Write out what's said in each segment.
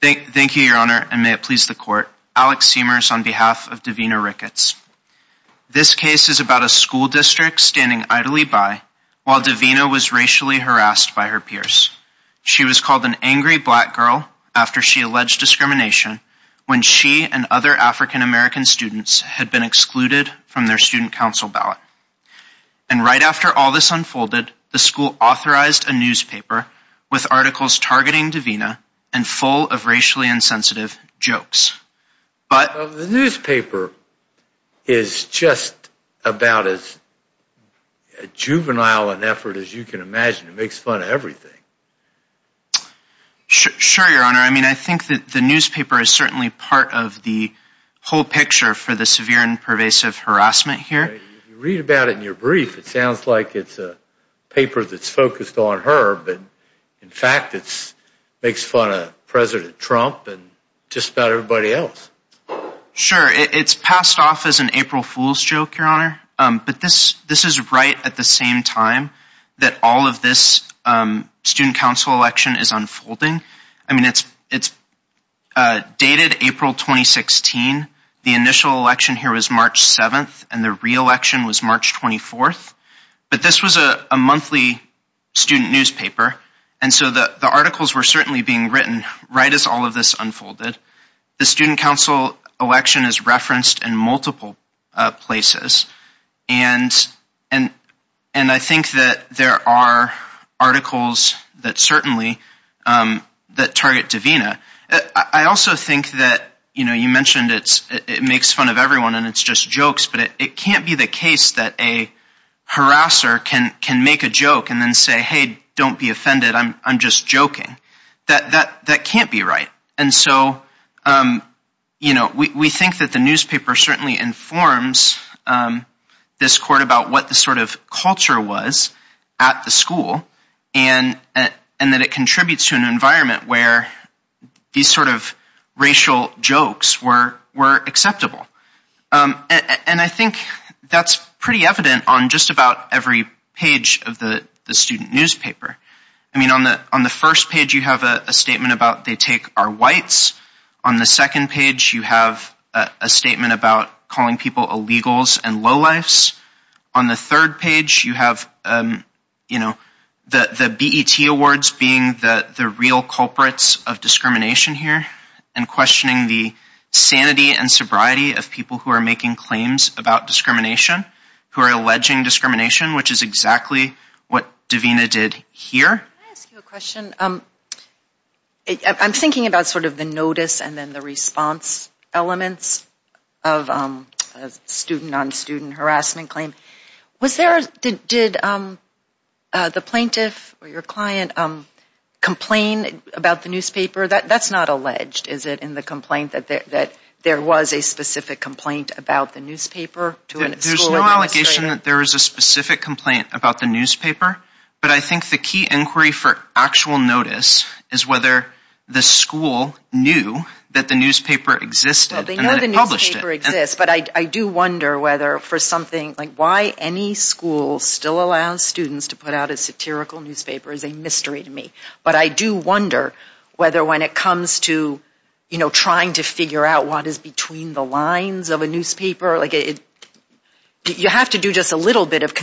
Thank you, your honor, and may it please the court. Alex Seamers on behalf of Davina Ricketts. This case is about a school district standing idly by while Davina was racially harassed by her peers. She was called an angry black girl after she alleged discrimination when she and other African-American students had been excluded from their student council ballot. And right after all this unfolded, the school authorized a newspaper with articles targeting Davina and full of racially insensitive jokes. But the newspaper is just about as juvenile an effort as you can imagine. It makes fun of everything. Sure, your honor. I mean, I think that the newspaper is certainly part of the whole picture for the severe and pervasive harassment here. You read about it in your brief, it sounds like it's a paper that's focused on her, but in fact it's makes fun of President Trump and just about everybody else. Sure, it's passed off as an April Fool's joke, your honor, but this is right at the same time that all of this student council election is unfolding. I mean, it's dated April 2016. The initial election here was March 7th, and the re-election was March 24th. But this was a monthly student newspaper, and so the articles were certainly being written right as all of this unfolded. The student council election is referenced in multiple places, and I think that there are articles that certainly target Davina. I also think that, you know, you mentioned it makes fun of everyone and it's just jokes, but it can't be the case that a harasser can make a joke and then say, hey, don't be offended, I'm just joking. That can't be right. And so, you know, we think that the newspaper certainly informs this court about what the sort of culture was at the school, and that it contributes to an environment where these sort of racial jokes were acceptable. And I think that's pretty evident on just about every page of the student newspaper. I mean, on the first page, you have a statement about they take our whites. On the second page, you have a statement about calling people illegals and lowlifes. On the third page, you have, you know, the BET awards being the real culprits of discrimination here, and questioning the sanity and sobriety of people who are making claims about discrimination, who are alleging discrimination, which is exactly what Davina did here. Can I ask you a question? I'm thinking about sort of the notice and then the response elements of student-on-student harassment claim. Was there, did the plaintiff or your client complain about the newspaper? That's not alleged, is it, in the complaint that there was a specific complaint about the newspaper to a school administrator? There's no allegation that there was a specific complaint about the newspaper, but I think the key inquiry for actual notice is whether the school knew that the newspaper existed. They know the newspaper exists, but I do wonder whether for something, like why any school still allows students to put out a satirical newspaper is a mystery to me, but I do wonder whether when it comes to, you know, trying to figure out what is between the lines of a newspaper, like it, you have to do just a little bit of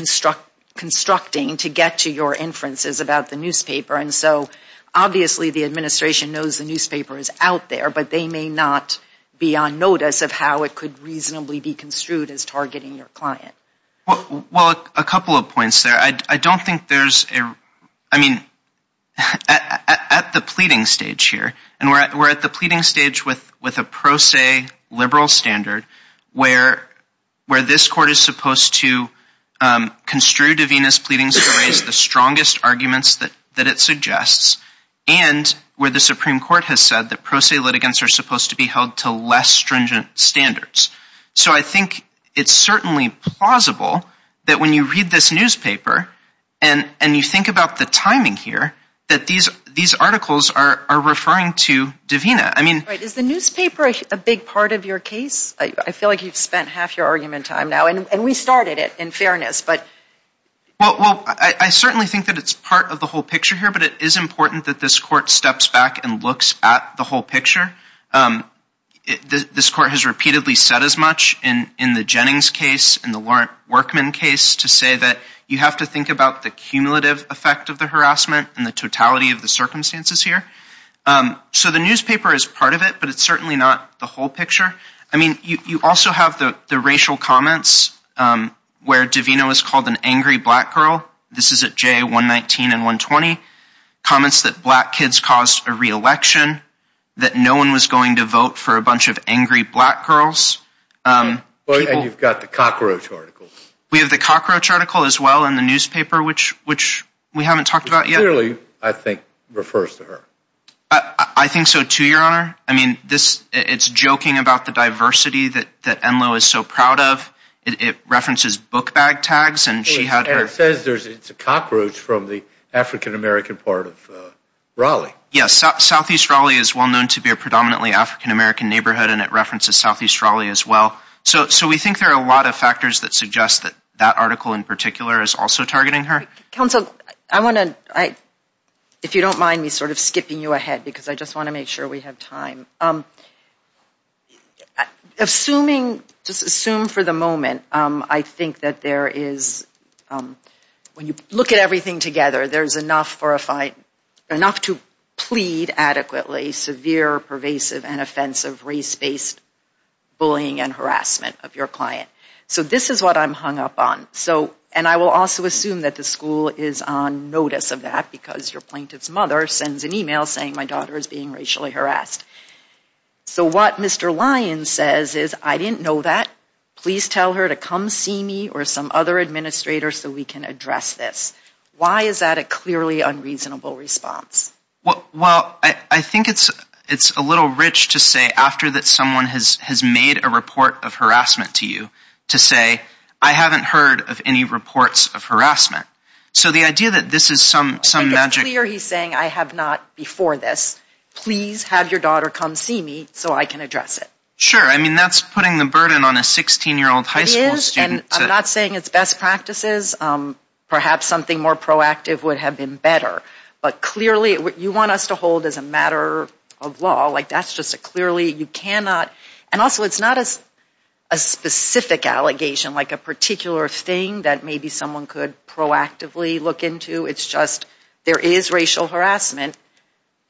constructing to get to your inferences about the newspaper, and so obviously the administration knows the newspaper is out there, but they may not be on notice of how it could reasonably be construed as targeting your client. Well, a couple of points there. I don't think there's a, I mean, at the pleading stage here, and we're at the pleading stage with a pro se liberal standard where this court is supposed to construe Davina's pleading stories, the strongest arguments that it suggests, and where the Supreme Court has said that pro se litigants are supposed to be held to less stringent standards, so I think it's certainly plausible that when you read this newspaper and you think about the timing here, that these articles are referring to Davina. I mean, is the newspaper a big part of your case? I feel like you've spent half your argument time now, and we started it, in fairness, but... Well, I certainly think that it's part of the whole picture here, but it is important that this court steps back and looks at the whole picture. This court has repeatedly said as much in the Jennings case, in the Laurent Workman case, to say that you have to think about the cumulative effect of the harassment and the totality of the but it's certainly not the whole picture. I mean, you also have the racial comments where Davina was called an angry black girl. This is at JA 119 and 120. Comments that black kids caused a re-election, that no one was going to vote for a bunch of angry black girls. And you've got the cockroach article. We have the cockroach article as well in the newspaper, which we haven't talked about yet. Clearly, I think, refers to her. I think so too, your honor. I mean, it's joking about the diversity that Enloe is so proud of. It references book bag tags, and she had her... And it says it's a cockroach from the African-American part of Raleigh. Yes, Southeast Raleigh is well known to be a predominantly African-American neighborhood, and it references Southeast Raleigh as well. So we think there are a lot of factors that suggest that that article in particular is also targeting her. Counsel, I want to, if you don't mind me sort of skipping you ahead, because I just want to make sure we have time. Assuming, just assume for the moment, I think that there is, when you look at everything together, there's enough to plead adequately, severe, pervasive, and offensive race-based bullying and harassment of your client. So this is what I'm hung up on. And I will also assume that the school is on notice of that, because your plaintiff's mother sends an email saying, my daughter is being racially harassed. So what Mr. Lyons says is, I didn't know that. Please tell her to come see me or some other administrator so we can address this. Why is that a clearly unreasonable response? Well, I think it's a little rich to say after that someone has made a report of harassment to you, to say, I haven't heard of any reports of harassment. So the idea that this is some magic. It's clear he's saying, I have not before this. Please have your daughter come see me so I can address it. Sure. I mean, that's putting the burden on a 16-year-old high school student. It is. And I'm not saying it's best practices. Perhaps something more proactive would have been better. But clearly, you want us to hold as a matter of law, like that's just a clearly you cannot. And also, it's not as a specific allegation, like a particular thing that maybe someone could proactively look into. It's just, there is racial harassment.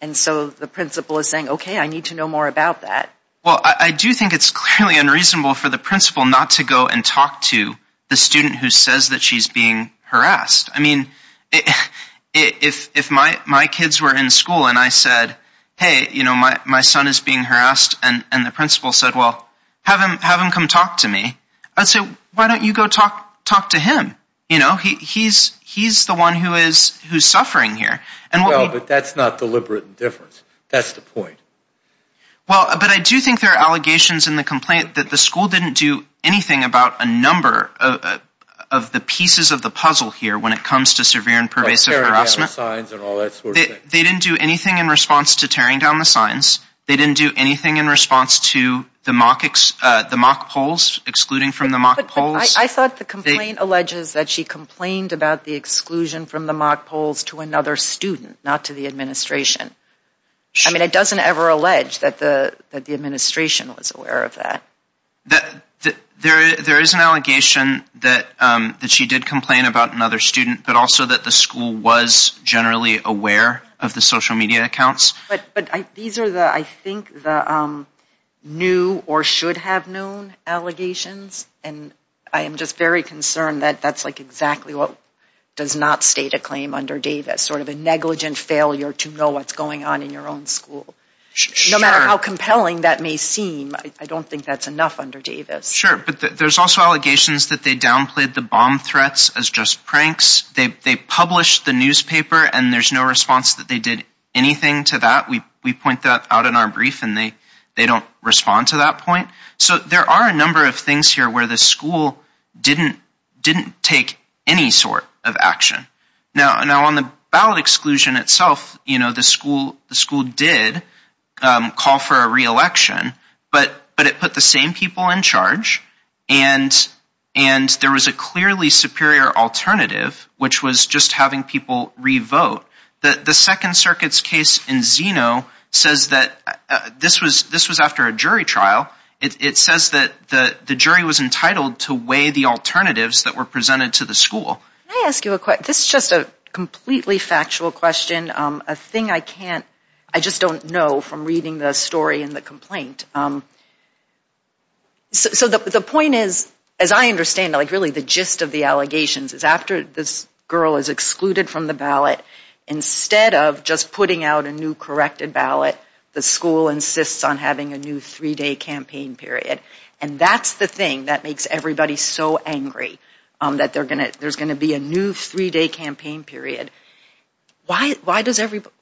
And so the principal is saying, OK, I need to know more about that. Well, I do think it's clearly unreasonable for the principal not to go and talk to the student who says that she's being harassed. I mean, if my kids were in school and I said, hey, my son is being harassed. And the principal said, well, have him come talk to me. I'd say, why don't you go talk to him? He's the one who is suffering here. Well, but that's not deliberate indifference. That's the point. Well, but I do think there are allegations in the complaint that the school didn't do anything about a number of the pieces of the puzzle here when it comes to severe and pervasive signs and all that sort of thing. They didn't do anything in response to tearing down the signs. They didn't do anything in response to the mock polls, excluding from the mock polls. I thought the complaint alleges that she complained about the exclusion from the mock polls to another student, not to the administration. I mean, it doesn't ever allege that the administration was aware of that. There is an allegation that she did complain about another student, but also that the school was generally aware of the social media accounts. But these are the, I think, the new or should have known allegations. And I am just very concerned that that's like exactly what does not state a claim under Davis, sort of a negligent failure to know what's going on in your own school. No matter how compelling that may seem, I don't think that's enough under Davis. Sure. But there's also allegations that they downplayed the bomb threats as just pranks. They published the newspaper and there's no response that they did anything to that. We point that out in our brief and they don't respond to that point. So there are a number of things here where the school didn't take any sort of action. Now on the ballot exclusion itself, the school did call for a re-election, but it put the same people in charge and there was a clearly superior alternative, which was just having people re-vote. The Second Circuit's case in Zeno says that, this was after a jury trial, it says that the jury was entitled to weigh the alternatives that were presented to the school. Can I ask you a question? This is just a completely factual question. A thing I can't, I just don't know from reading the story and the complaint. So the point is, as I understand, like really the gist of the allegations is after this girl is excluded from the ballot, instead of just putting out a new corrected ballot, the school insists on having a new three-day campaign period. And that's the thing that makes everybody so angry, that there's going to be a new three-day campaign period. Why does everybody,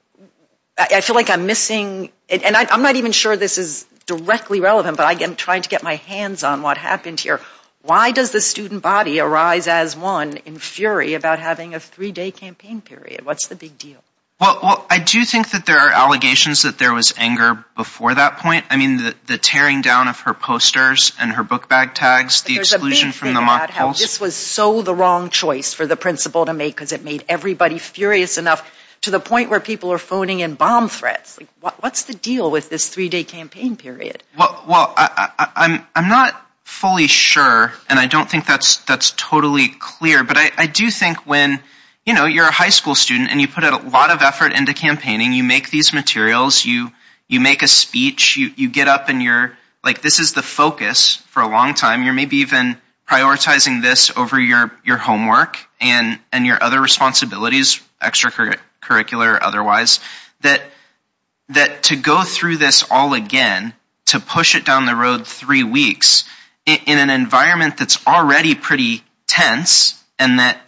I feel like I'm missing, and I'm not even sure this is directly relevant, but I'm trying to get my hands on what happened here. Why does the student body arise as one in fury about having a three-day campaign period? What's the big deal? Well, I do think that there are allegations that there was anger before that point. I mean, the tearing down of her posters and her book bag tags, the exclusion from the mock polls. But there's a big thing about how this was so the wrong choice for the principal to make, because it made everybody furious enough, to the point where people are phoning in bomb threats. What's the deal with this three-day campaign period? Well, I'm not fully sure, and I don't think that's totally clear, but I do think when, you know, you're a high school student and you put a lot of effort into campaigning, you make these materials, you make a speech, you get up and you're, like this is the focus for a long time. You're maybe even prioritizing this over your homework and your other responsibilities, extracurricular or otherwise, that to go through this all again, to push it down the road three weeks, in an environment that's already pretty tense and that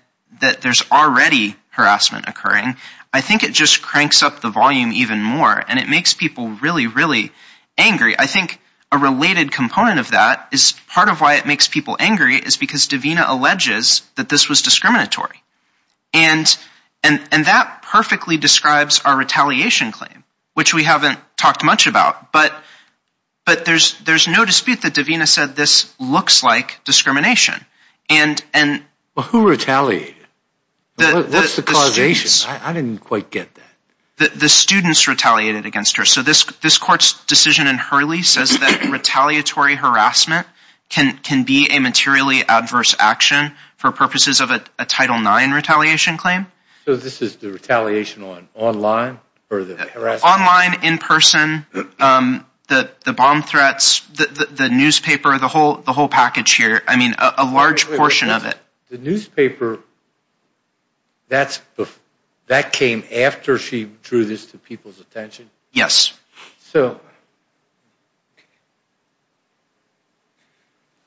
there's already harassment occurring, I think it just cranks up the volume even more, and it makes people really, really angry. I think a related component of that is part of why it makes people angry is because Davina alleges that this was discriminatory. And that perfectly describes our retaliation claim, which we haven't talked much about, but there's no dispute that Davina said this looks like discrimination. Well, who retaliated? What's the causation? I didn't This court's decision in Hurley says that retaliatory harassment can be a materially adverse action for purposes of a Title IX retaliation claim. So this is the retaliation on online or the harassment? Online, in person, the bomb threats, the newspaper, the whole package here, I mean a large portion of it. The newspaper, that came after she drew this to people's attention? Yes. All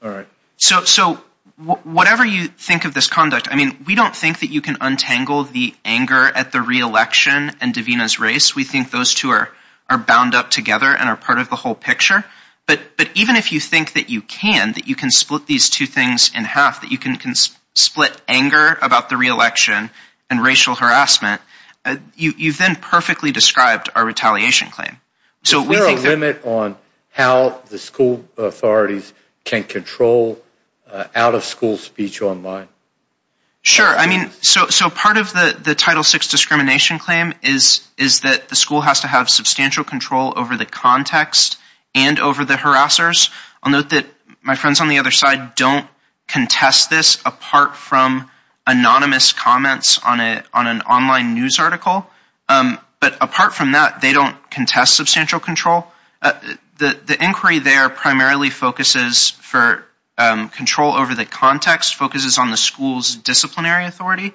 right. So whatever you think of this conduct, I mean, we don't think that you can untangle the anger at the re-election and Davina's race. We think those two are bound up together and are part of the whole picture. But even if you think that you can, that you can split these two things in half, that you can split anger about the re-election and racial harassment, you've then perfectly described our retaliation claim. Is there a limit on how the school authorities can control out-of-school speech online? Sure. I mean, so part of the Title VI discrimination claim is that the school has to have substantial control over the context and over the harassers. I'll note that my friends on the other side don't contest this apart from anonymous comments on an online news article. But apart from that, they don't contest substantial control. The inquiry there primarily focuses for control over the context, focuses on the school's disciplinary authority,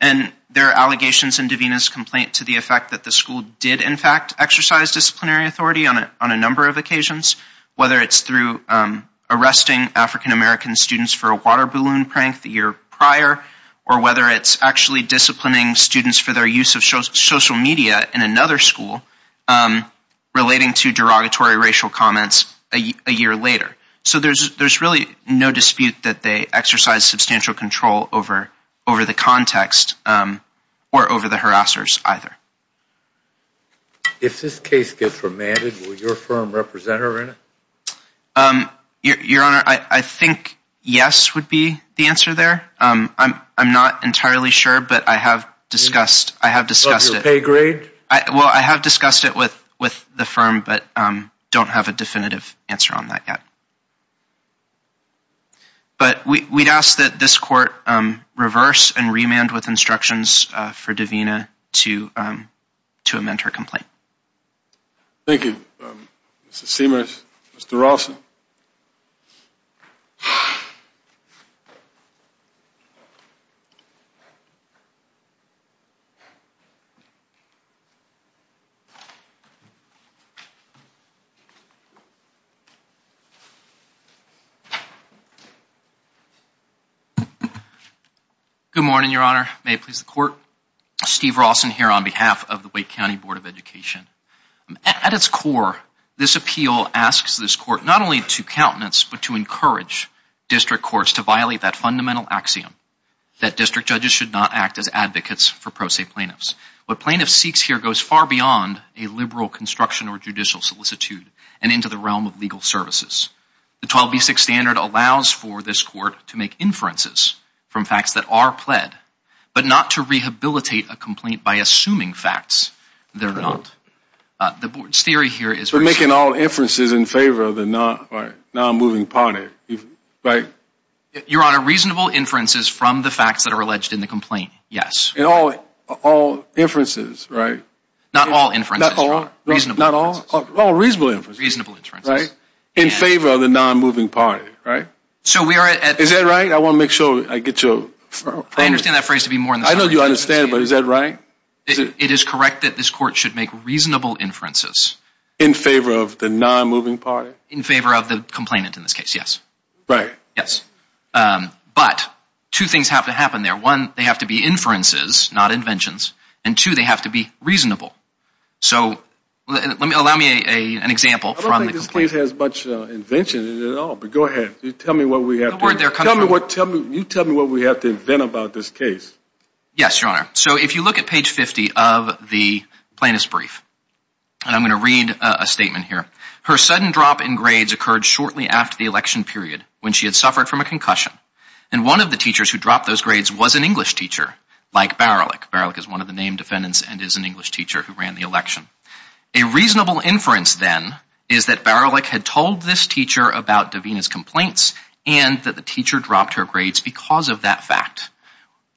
and there are allegations in Davina's complaint to the effect that the school did, in fact, exercise disciplinary authority on a number of occasions, whether it's arresting African-American students for a water balloon prank the year prior, or whether it's actually disciplining students for their use of social media in another school relating to derogatory racial comments a year later. So there's really no dispute that they exercise substantial control over the context or over the harassers either. If this case gets remanded, will your firm represent her in it? Your Honor, I think yes would be the answer there. I'm not entirely sure, but I have discussed it with the firm, but don't have a definitive answer on that yet. But we'd ask that this court reverse and remand with instructions for Davina to amend her complaint. Thank you, Mr. Seamus. Mr. Rawson. Good morning, Your Honor. May it please the Court. Steve Rawson here on behalf of the At its core, this appeal asks this court not only to countenance, but to encourage district courts to violate that fundamental axiom that district judges should not act as advocates for pro se plaintiffs. What plaintiffs seeks here goes far beyond a liberal construction or judicial solicitude and into the realm of legal services. The 12b6 standard allows for this court to make inferences from facts that are pled, but not to rehabilitate a complaint by assuming facts they're not. The board's theory here is... We're making all inferences in favor of the non-moving party, right? Your Honor, reasonable inferences from the facts that are alleged in the complaint, yes. All inferences, right? Not all inferences. Not all reasonable inferences, right? In favor of the non-moving party, right? So we are at... Is that right? I want to make sure I get your... I understand that phrase to be more... I know you understand, but is that right? It is correct that this court should make reasonable inferences. In favor of the non-moving party? In favor of the complainant in this case, yes. Right. Yes. But two things have to happen there. One, they have to be inferences, not inventions. And two, they have to be reasonable. So let me... Allow me an example from the complaint. I don't think this case has much invention at all, but go ahead. You tell me what we have to... The word there comes from... Tell me what... Tell me... You tell me what we have to invent about this case. Yes, Your Honor. So if you look at page 50 of the plaintiff's brief, and I'm going to read a statement here. Her sudden drop in grades occurred shortly after the election period, when she had suffered from a concussion. And one of the teachers who dropped those grades was an English teacher, like Baralik. Baralik is one of the named defendants and is an English teacher who ran the election. A reasonable inference then is that Baralik had told this teacher about Davina's complaints and that the dropped her grades because of that fact.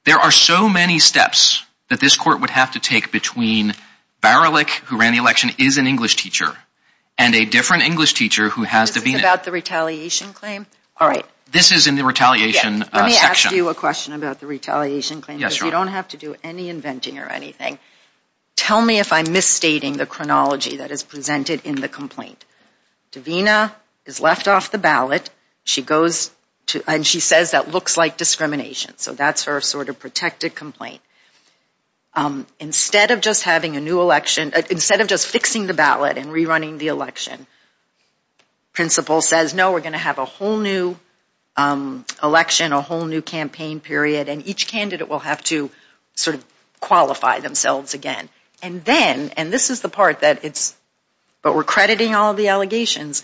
There are so many steps that this court would have to take between Baralik, who ran the election, is an English teacher, and a different English teacher who has Davina... This is about the retaliation claim? All right. This is in the retaliation section. Let me ask you a question about the retaliation claim. Yes, Your Honor. Because you don't have to do any inventing or anything. Tell me if I'm misstating the chronology that is that looks like discrimination. So that's her sort of protected complaint. Instead of just having a new election, instead of just fixing the ballot and rerunning the election, principal says, no, we're going to have a whole new election, a whole new campaign period, and each candidate will have to sort of qualify themselves again. And then, and this is the part that we're crediting all the allegations,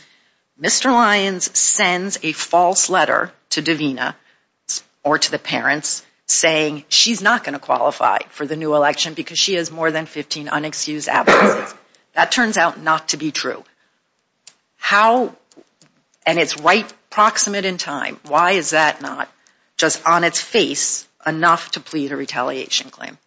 Mr. Lyons sends a false letter to Davina or to the parents saying she's not going to qualify for the new election because she has more than 15 unexcused absences. That turns out not to be true. How, and it's right proximate in time, why is that not just on its face enough to plead a retaliation claim?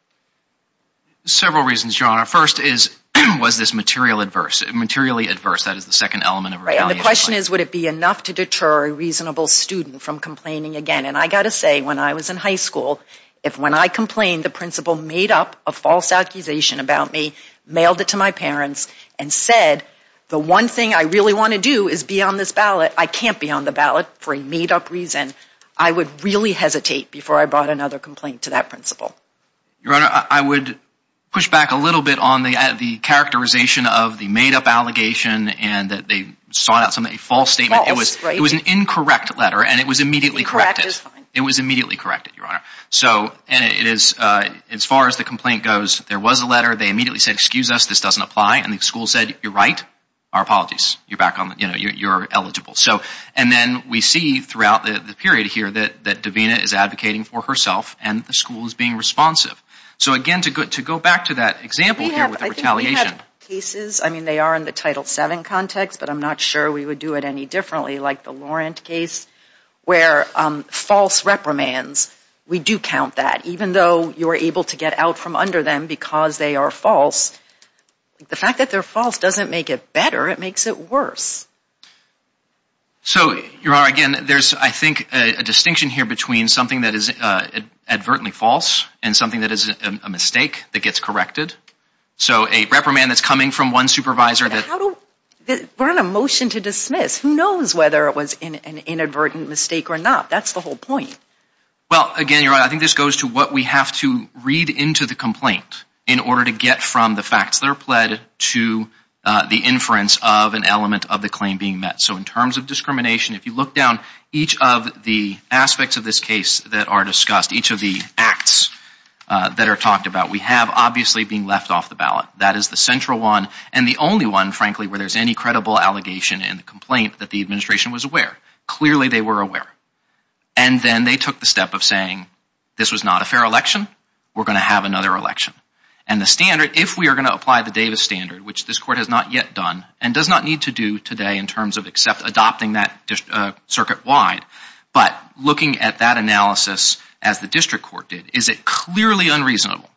Several reasons, Your Honor. First is, was this material adverse, materially adverse, that is the second element of retaliation. And the question is, would it be enough to deter a reasonable student from complaining again? And I got to say, when I was in high school, if when I complained, the principal made up a false accusation about me, mailed it to my parents and said, the one thing I really want to do is be on this ballot. I can't be on the ballot for a made up reason. I would really hesitate before I brought another complaint to that principal. Your Honor, I would push back a little bit on the characterization of the made up allegation and that they sought out something, a false statement. It was an incorrect letter and it was immediately corrected. It was immediately corrected, Your Honor. So, and it is, as far as the complaint goes, there was a letter, they immediately said, excuse us, this doesn't apply. And the school said, you're right. Our apologies. You're back on, you know, you're eligible. So, and then we see throughout the period here that Davina is advocating for herself and the school is being responsive. So, again, to go back to that example here with the retaliation. We have cases, I mean, they are in the Title VII context, but I'm not sure we would do it any differently, like the Laurent case, where false reprimands, we do count that, even though you were able to get out from under them because they are false. The fact that they're false doesn't make it better, it makes it worse. So, Your Honor, again, there's, I think, a distinction here between something that is advertently false and something that is a mistake that gets corrected. So, a reprimand that's coming from one supervisor that... But how do, we're on a motion to dismiss. Who knows whether it was an inadvertent mistake or not? That's the whole point. Well, again, Your Honor, I think this goes to what we have to read into the complaint in order to get from the facts that are pled to the inference of an element of the claim being met. So, in terms of discrimination, if you look down each of the aspects of this case that are discussed, each of the acts that are talked about, we have, obviously, being left off the ballot. That is the central one and the only one, frankly, where there's any credible allegation in the complaint that the administration was aware. Clearly, they were aware. And then they took the step of saying, this was not a fair election, we're going to have another election. And the standard, if we are going to apply the standard, which this Court has not yet done and does not need to do today in terms of except adopting that circuit-wide, but looking at that analysis as the District Court did, is it clearly unreasonable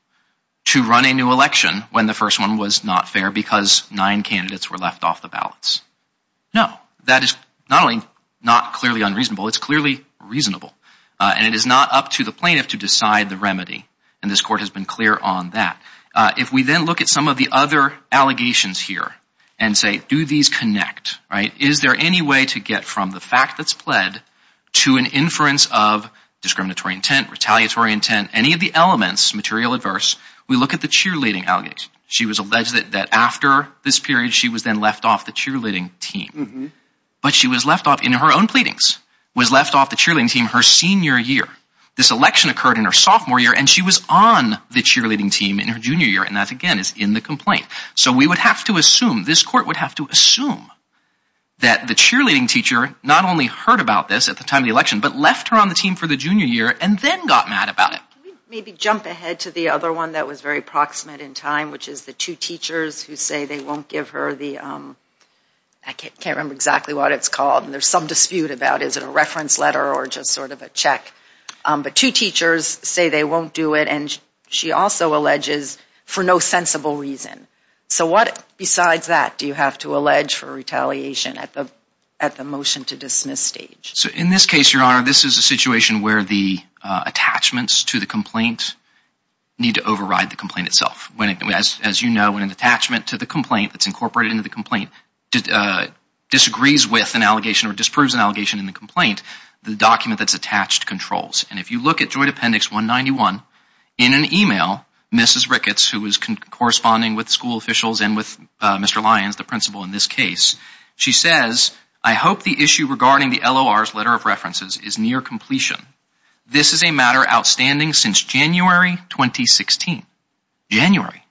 to run a new election when the first one was not fair because nine candidates were left off the ballots? No. That is not only not clearly unreasonable, it's clearly reasonable. And it is not up to the plaintiff to decide the remedy. And this Court has been clear on that. If we then look at some of the other allegations here and say, do these connect, right? Is there any way to get from the fact that's pled to an inference of discriminatory intent, retaliatory intent, any of the elements, material adverse, we look at the cheerleading allegations. She was alleged that after this period, she was then left off the cheerleading team. But she was left off in her own pleadings, was left off the cheerleading team her senior year. This election occurred in her sophomore year and she was on the cheerleading team in her junior year and that again is in the complaint. So we would have to assume, this Court would have to assume that the cheerleading teacher not only heard about this at the time of the election, but left her on the team for the junior year and then got mad about it. Can we maybe jump ahead to the other one that was very proximate in time, which is the two teachers who say they won't give her the, I can't remember exactly what it's called and there's some dispute about is it a reference letter or just sort of a check. But two teachers say they won't do it and she also alleges for no sensible reason. So what besides that do you have to allege for retaliation at the motion to dismiss stage? So in this case, Your Honor, this is a situation where the attachments to the complaint need to override the complaint itself. As you know, when an attachment to the complaint that's incorporated into the complaint disagrees with an allegation or disproves an allegation in the complaint, the document that's attached controls. And if you look at Joint Appendix 191 in an email, Mrs. Ricketts, who is corresponding with school officials and with Mr. Lyons, the principal in this case, she says, I hope the issue regarding the LOR's letter of references is near completion. This is a matter outstanding since January 2016. January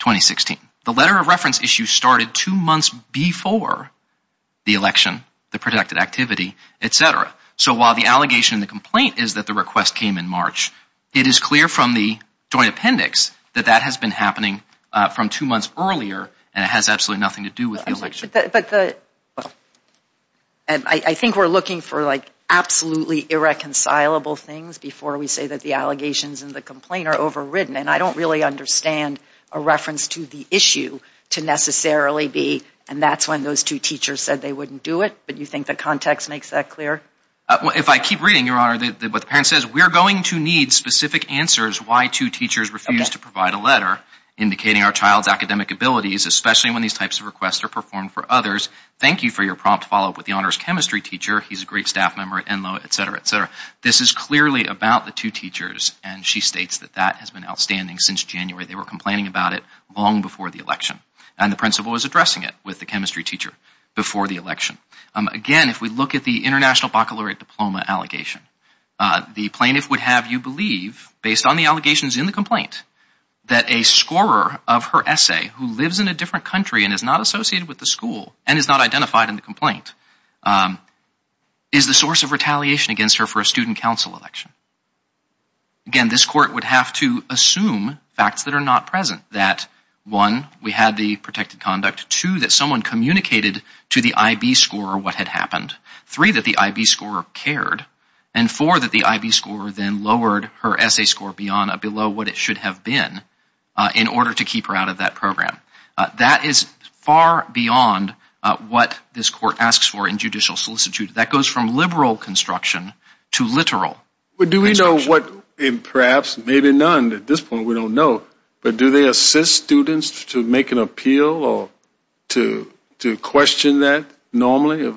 2016. The letter of reference issue started two months before the election, the protected activity, etc. So while the allegation in the complaint is that the request came in March, it is clear from the Joint Appendix that that has been happening from two months earlier and it has absolutely nothing to do with the election. But I think we're looking for like absolutely irreconcilable things before we say that the allegations and the complaint are overridden. And I don't really understand a reference to the issue to necessarily be, and that's when those two teachers said they wouldn't do it. But you think the context makes that clear? If I keep reading, Your Honor, what the parent says, we're going to need specific answers why two teachers refused to provide a letter indicating our child's academic abilities, especially when these types of requests are performed for others. Thank you for your prompt follow-up with the honors chemistry teacher. He's a great staff member at Enloe, etc., etc. This is clearly about the two teachers and she states that that has been outstanding since January. They were complaining about it long before the election and the principal was addressing it with the chemistry teacher before the election. Again, if we look at the International Baccalaureate Diploma allegation, the plaintiff would have you believe, based on the allegations in the complaint, that a scorer of her essay who lives in a different country and is not associated with the school and is not identified in the complaint is the source of retaliation against her for a student council election. Again, this court would have to assume facts that are not present. That one, we had the protected conduct. Two, that someone communicated to the IB scorer what had happened. Three, that the IB scorer cared. And four, that the IB scorer then lowered her essay score beyond below what it should have been in order to keep her out of that program. That is far beyond what this court asks for in judicial solicitude. That goes from liberal construction to literal. But do we know what, and perhaps maybe none at this point, we don't know, but do they assist students to make an appeal or to question that normally?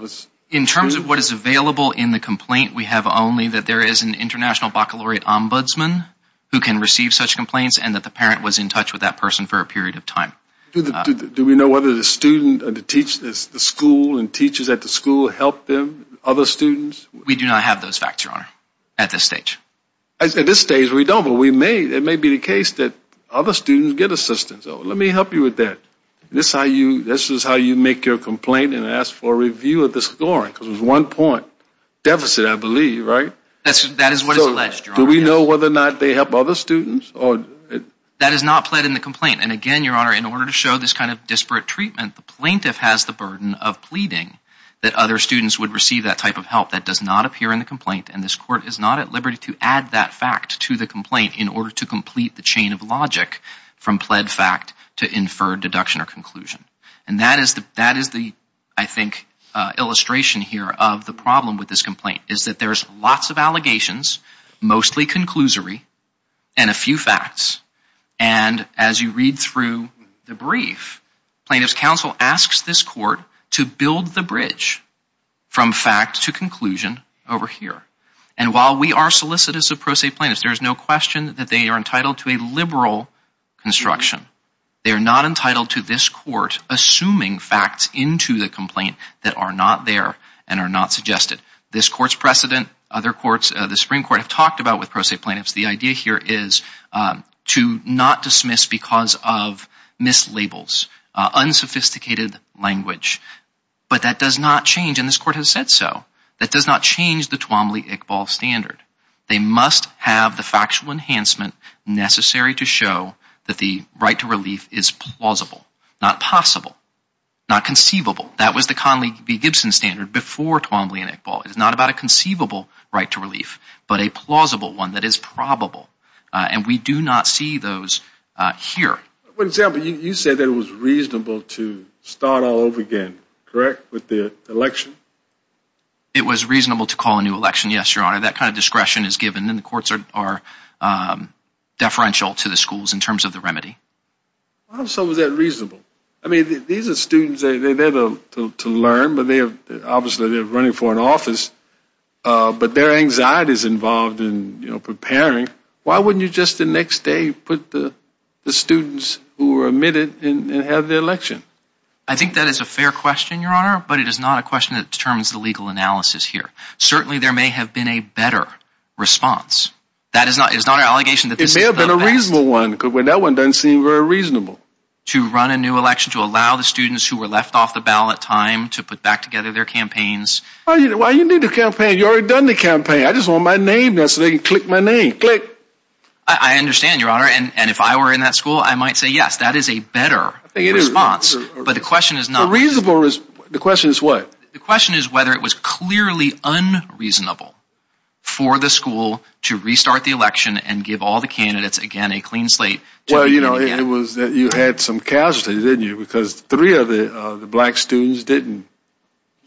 In terms of what is available in the complaint, we have only that there is an International Baccalaureate Ombudsman who can receive such complaints and that the parent was in touch with that person for a period of time. Do we know whether the student or the school and teachers at the school helped them, other students? We do not have those facts, Your Honor, at this stage. At this stage, we don't, but it may be the case that other students get assistance. Let me help you with that. This is how you make your complaint and ask for a review of the scoring, because it was one point deficit, I believe, right? That is what is alleged, Your Honor. Do we know whether or not they help other students? That is not in the complaint. And again, Your Honor, in order to show this kind of disparate treatment, the plaintiff has the burden of pleading that other students would receive that type of help. That does not appear in the complaint, and this Court is not at liberty to add that fact to the complaint in order to complete the chain of logic from pled fact to inferred deduction or conclusion. And that is the, that is the, I think, illustration here of the problem with this complaint, is that there's lots of allegations, mostly conclusory, and a few facts. And as you read through the brief, Plaintiff's Counsel asks this Court to build the bridge from fact to conclusion over here. And while we are solicitous of pro se plaintiffs, there is no question that they are entitled to a liberal construction. They are not entitled to this Court assuming facts into the complaint that are not there and are not suggested. This Court's precedent, other courts, the Supreme Court, have talked about with pro se plaintiffs. The idea here is to not dismiss because of mislabels, unsophisticated language. But that does not change, and this Court has said so, that does not change the Twombly-Iqbal standard. They must have the factual enhancement necessary to show that the right to relief is plausible, not possible, not conceivable. That was the Gibson standard before Twombly-Iqbal. It is not about a conceivable right to relief, but a plausible one that is probable. And we do not see those here. For example, you said that it was reasonable to start all over again, correct, with the election? It was reasonable to call a new election, yes, Your Honor. That kind of discretion is given, and the courts are deferential to the schools in terms of the remedy. Why also was that reasonable? I mean, these are students, they're there to learn, but obviously they're running for an office, but their anxiety is involved in preparing. Why wouldn't you just the next day put the students who were admitted and have the election? I think that is a fair question, Your Honor, but it is not a question that determines the legal analysis here. Certainly there may have been a better response. That is not an allegation that this is the best. It may have been a reasonable one, but that one doesn't seem very reasonable. To run a new election, to allow the students who were left off the ballot time to put back together their campaigns. Why do you need a campaign? You already done the campaign. I just want my name now so they can click my name. Click. I understand, Your Honor, and if I were in that school, I might say yes, that is a better response, but the question is not. The question is what? The question is whether it was clearly unreasonable for the school to restart the election and give all the candidates again a clean slate. Well, you know, it was that you had some casualties, didn't you? Because three of the black students didn't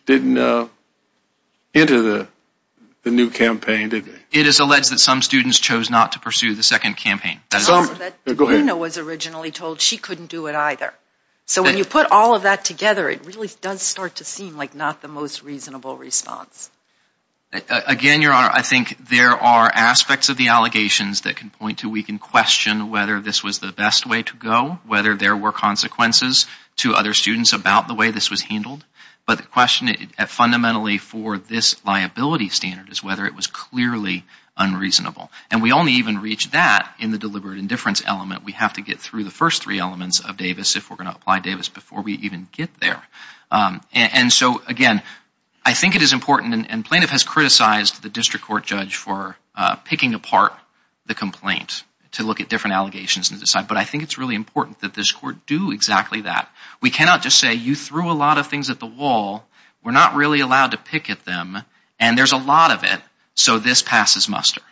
enter the new campaign, didn't they? It is alleged that some students chose not to pursue the second campaign. Some. Go ahead. DeBruno was originally told she couldn't do it either. So when you put all of that together, it really does start to seem like not the most reasonable response. Again, Your Honor, I think there are aspects of the allegations that can point to we can question whether this was the best way to go, whether there were consequences to other students about the way this was handled. But the question fundamentally for this liability standard is whether it was clearly unreasonable. And we only even reach that in the deliberate indifference element. We have to get through the first three elements of Davis if we're going to apply Davis before we even get there. And so, again, I think it is important and plaintiff has criticized the district court judge for picking apart the complaint to look at different allegations and decide. But I think it's really important that this court do exactly that. We cannot just say you threw a lot of things at the wall. We're not really allowed to pick at them. And there's a lot of it. So this passes muster.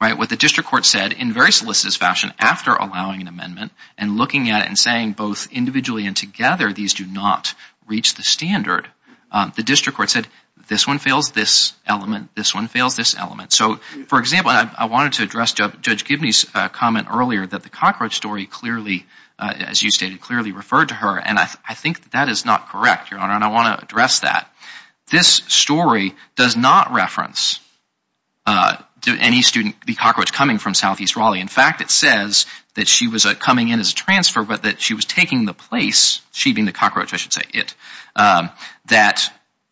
Right. What the district court said in very solicitous fashion after allowing an amendment and looking at it and saying both individually and together, these do not reach the standard. The district court said this one fails this element. This one fails this element. So, for example, I wanted to address Judge Gibney's comment earlier that the cockroach story clearly, as you stated, clearly referred to her. And I think that is not correct, Your Honor. And I want to address that. This story does not reference any student, the cockroach coming from Southeast Raleigh. In fact, it says that she was coming in as a transfer, that she was taking the place, she being the cockroach, I should say it, that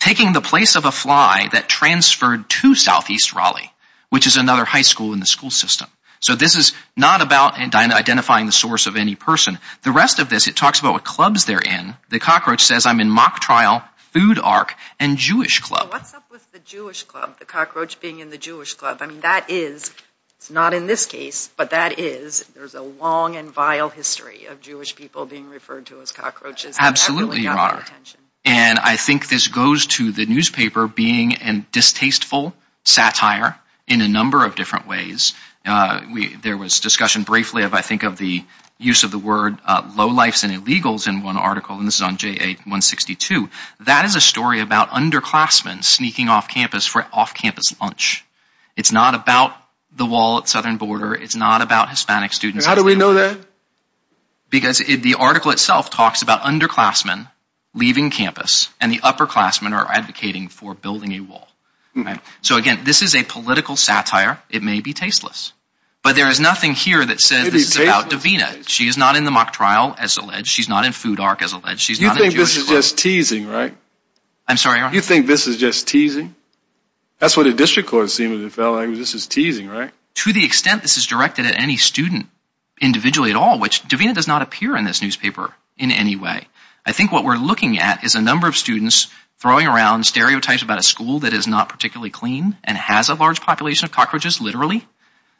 taking the place of a fly that transferred to Southeast Raleigh, which is another high school in the school system. So this is not about identifying the source of any person. The rest of this, it talks about what clubs they're in. The cockroach says, I'm in mock trial, food arc, and Jewish club. What's up with the Jewish club, the cockroach being in the Jewish club? I mean, it's not in this case, but that is, there's a long and vile history of Jewish people being referred to as cockroaches. Absolutely, Your Honor. And I think this goes to the newspaper being a distasteful satire in a number of different ways. There was discussion briefly of, I think, of the use of the word lowlifes and illegals in one article, and this is on JA 162. That is a story about underclassmen sneaking off campus for off-campus lunch. It's not about the wall at southern border. It's not about Hispanic students. How do we know that? Because the article itself talks about underclassmen leaving campus, and the upperclassmen are advocating for building a wall. So again, this is a political satire. It may be tasteless, but there is nothing here that says this is about Davina. She is not in the mock trial, as alleged. She's not in food arc, as alleged. You think this is just teasing, right? I'm sorry, Your Honor? You think this is just teasing? That's what the district court seems to be feeling. This is teasing, right? To the extent this is directed at any student, individually at all, which Davina does not appear in this newspaper in any way. I think what we're looking at is a number of students throwing around stereotypes about a school that is not particularly clean and has a large population of cockroaches, literally.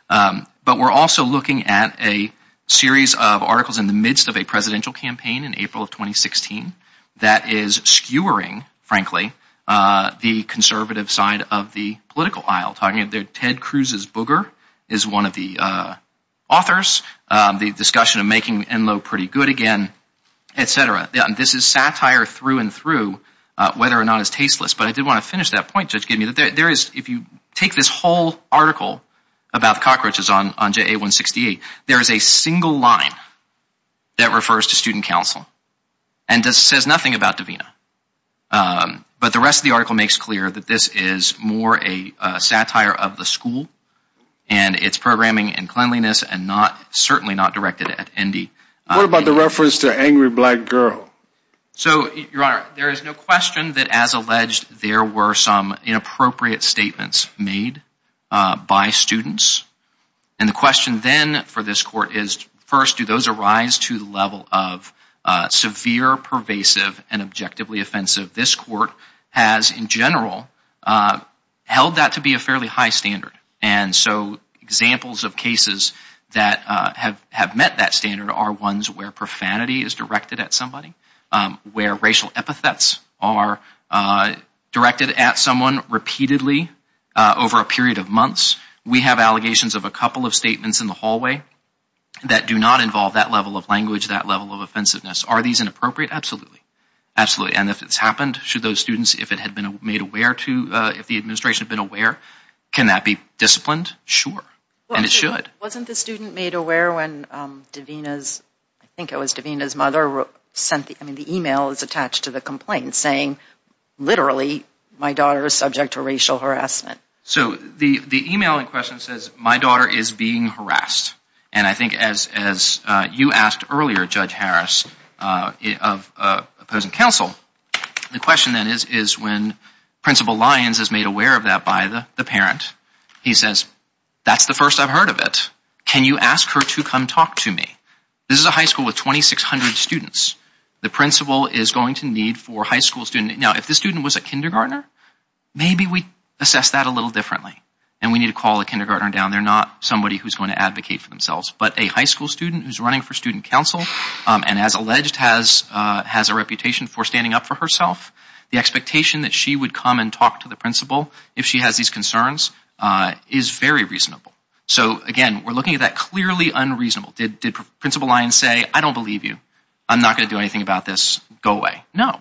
But we're also looking at a series of articles in the midst of a presidential campaign in April of 2016 that is skewering, frankly, the conservative side of the political aisle. Talking about Ted Cruz's booger is one of the authors. The discussion of making Enloe pretty good again, etc. This is satire through and through, whether or not it's tasteless. But I did want to finish that point Judge Gidney. If you take this whole article about the cockroaches on JA-168, there is a single line that refers to student council. And this says nothing about Davina. But the rest of the article makes clear that this is more a satire of the school, and its programming and cleanliness, and certainly not directed at Endy. What about the reference to an angry black girl? So, Your Honor, there is no question that, as alleged, there were some inappropriate statements made by students. And the question then for this Court is, first, do those arise to the level of severe, pervasive, and objectively offensive? This Court has, in general, held that to be a fairly high standard. And so examples of cases that have met that standard are ones where profanity is directed at somebody, where racial epithets are directed at someone repeatedly over a period of months. We have allegations of a couple of statements in the hallway that do not involve that level of language, that level of offensiveness. Are these inappropriate? Absolutely. Absolutely. And if it's happened, should those students, if it had been made aware to, if the administration had been aware, can that be disciplined? Sure. And it should. Wasn't the student made aware when Davina's, I think it was Davina's mother, sent, I mean, the email is attached to the complaint saying, literally, my daughter is subject to racial harassment. So the email in question says, my daughter is being harassed. And I think as you asked earlier, Judge Harris, of opposing counsel, the question then is when Principal Lyons is made aware of that by the parent. He says, that's the first I've heard of it. Can you ask her to come talk to me? This is a high school with 2,600 students. The principal is going to need for high school students. Now, if the student was a kindergartner, maybe we assess that a little differently. And we need to call a kindergartner down. They're not somebody who's going to advocate for themselves. But a high school student who's running for student counsel, and as alleged, has a reputation for standing up for herself, the expectation that she would come and talk to the principal if she has these concerns is very reasonable. So again, we're looking at that clearly unreasonable. Did Principal Lyons say, I don't believe you. I'm not going to do anything about this. Go away. No.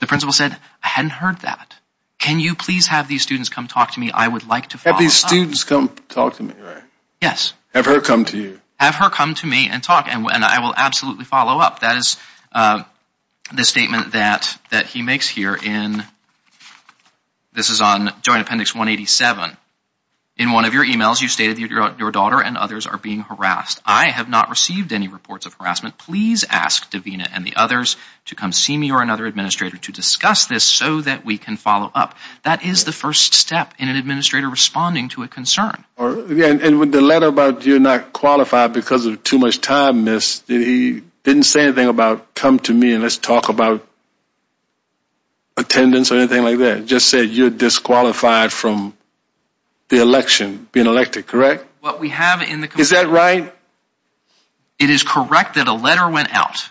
The principal said, I hadn't heard that. Can you please have these students come talk to me? I would like to follow up. Have these students come talk to me, right? Yes. Have her come to you. Have her come to me and talk, and I will absolutely follow up. That is the statement that he makes here. This is on Joint Appendix 187. In one of your emails, you stated your daughter and others are being harassed. I have not received any reports of harassment. Please ask Davina and the others to come see me or another administrator to discuss this so that we can follow up. That is the first step in an administrator responding to a concern. And with the letter about you're not qualified because of too much time missed, he didn't say anything about come to me and let's talk about attendance or anything like that. Just said you're disqualified from the election, being elected, correct? Is that right? It is correct that a letter went out.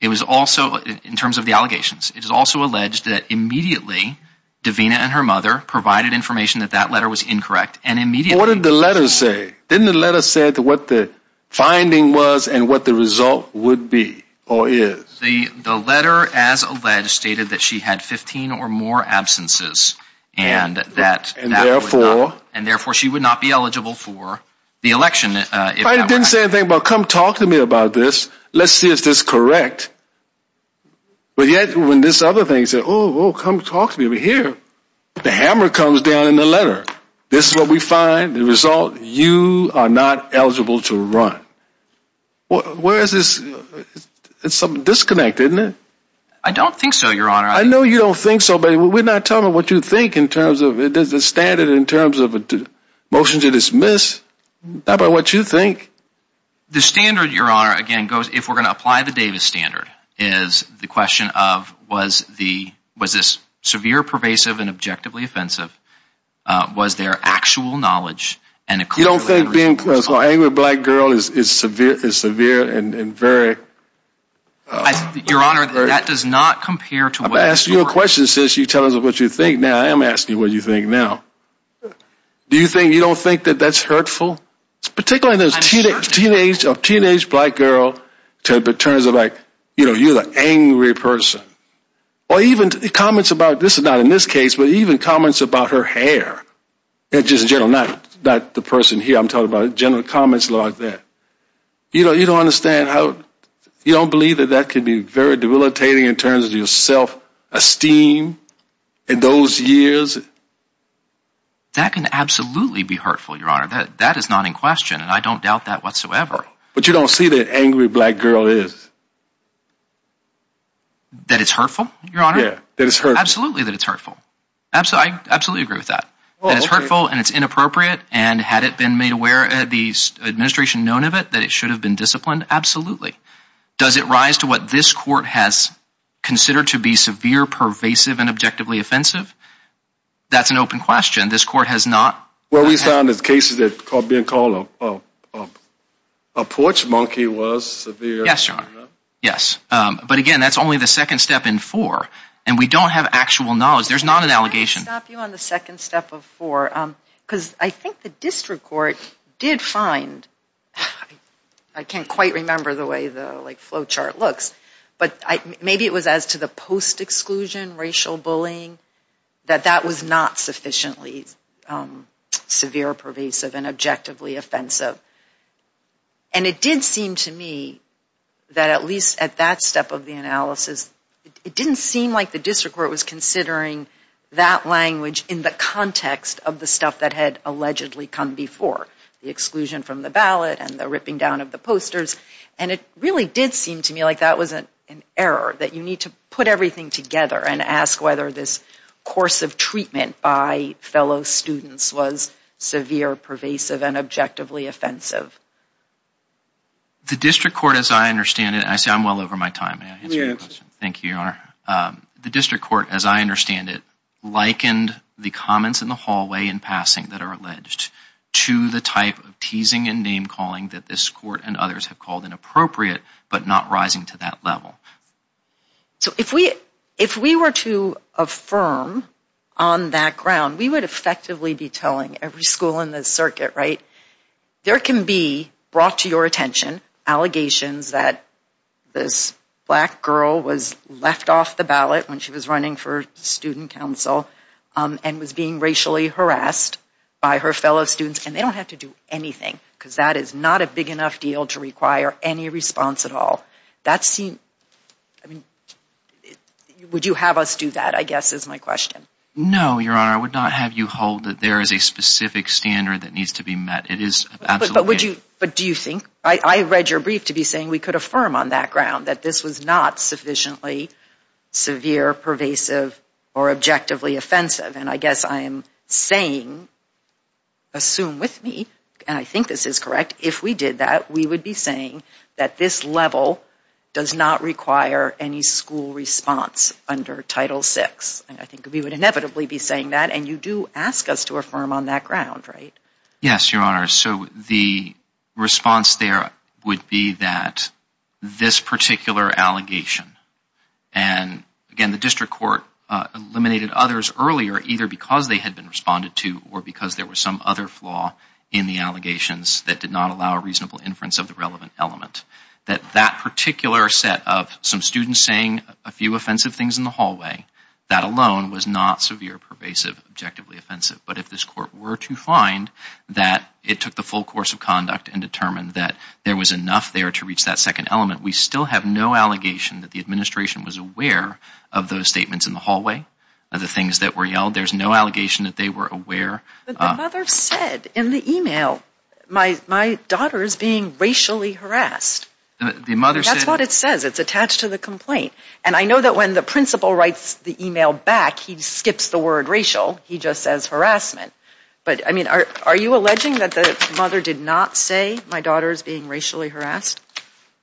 It was also, in terms of the allegations, it is also alleged that immediately Davina and her mother provided information that that letter was incorrect and what did the letter say? Didn't the letter say what the finding was and what the result would be or is? The letter, as alleged, stated that she had 15 or more absences and that therefore she would not be eligible for the election. It didn't say anything about come talk to me about this. Let's see if this is correct. But yet when this other thing said, oh, come talk to me over here, the hammer comes down in the letter. This is what we find. The result, you are not eligible to run. Where is this? It's some disconnect, isn't it? I don't think so, Your Honor. I know you don't think so, but we're not telling what you think in terms of the standard in terms of a motion to dismiss. Not by what you think. The standard, Your Honor, again, goes if we're going to apply the Davis standard, is the question of was this severe, pervasive, and objectively offensive? Was there actual knowledge? You don't think being an angry black girl is severe and very... Your Honor, that does not compare to... I've asked you a question since you tell us what you think now. I am asking you what you think now. Do you think you don't think that that's hurtful? Particularly in terms of a teenage black girl, in terms of like, you know, you're an angry person. Or even comments about, this is not in this case, but even comments about her hair. And just in general, not the person here I'm talking about, general comments like that. You know, you don't understand how... You don't believe that that could be very debilitating in terms of your self-esteem in those years? That can absolutely be hurtful, Your Honor. That is not in question, and I don't doubt that whatsoever. But you don't see that angry black girl is? That it's hurtful, Your Honor? Yeah, that it's hurtful. Absolutely that it's hurtful. I absolutely agree with that. That it's hurtful and it's inappropriate, and had it been made aware, had the administration known of it, that it should have been disciplined? Absolutely. Does it rise to what this court has considered to be severe, pervasive, and objectively offensive? That's an open question. This court has not... What we found is cases that are being called a porch monkey was severe. Yes, Your Honor. Yes. But again, that's only the second step in four, and we don't have actual knowledge. There's not an allegation. Can I stop you on the second step of four? Because I think the district court did find... I can't quite remember the way the flowchart looks, but maybe it was as to the post-exclusion racial bullying, that that was not sufficiently severe, pervasive, and objectively offensive. And it did seem to me that at least at that step of the analysis, it didn't seem like the district court was considering that language in the context of the stuff that had allegedly come before, the exclusion from the ballot and the ripping down of the posters. And it really did seem to me like that was an error, that you need to put everything together and ask whether this course of treatment by fellow students was severe, pervasive, and objectively offensive. The district court, as I understand it... I say I'm well over my time. May I answer your question? Thank you, Your Honor. The district court, as I understand it, likened the comments in the hallway in passing that are alleged to the type of teasing and name-calling that this court and others have called inappropriate, but not rising to that level. So if we were to affirm on that ground, we would effectively be telling every school in the circuit, right, there can be brought to your attention allegations that this black girl was left off the ballot when she was running for student council and was being racially harassed by her fellow students, and they don't have to do anything, because that is not a big enough deal to require any response at all. That seemed... I mean, would you have us do that, I guess, is my question. No, Your Honor, I would not have you hold that there is a specific standard that needs to be met. It is absolutely... But would you, but do you think, I read your brief to be saying we could affirm on that ground that this was not sufficiently severe, pervasive, or objectively offensive? And I guess I am saying, assume with me, and I think this is correct, if we did that, we would be saying that this level does not require any school response under Title VI. I think we would inevitably be saying that, and you do ask us to affirm on that ground, right? Yes, Your Honor, so the response there would be that this particular allegation, and again, the district court eliminated others earlier, either because they had been responded to or because there was some other flaw in the allegations that did not allow a reasonable inference of the relevant element, that that particular set of some students saying a few offensive things in the hallway, that alone was not severe, pervasive, objectively offensive. But if this court were to find that it took the full course of conduct and determined that there was enough there to reach that second element, we still have no allegation that the administration was aware of those statements in the hallway, of the things that were yelled. There is no allegation that they were aware... But the mother said in the email, my daughter is being racially harassed. The mother said... That is what it says. It is attached to the complaint. And I know that the principal writes the email back, he skips the word racial, he just says harassment. But I mean, are you alleging that the mother did not say, my daughter is being racially harassed?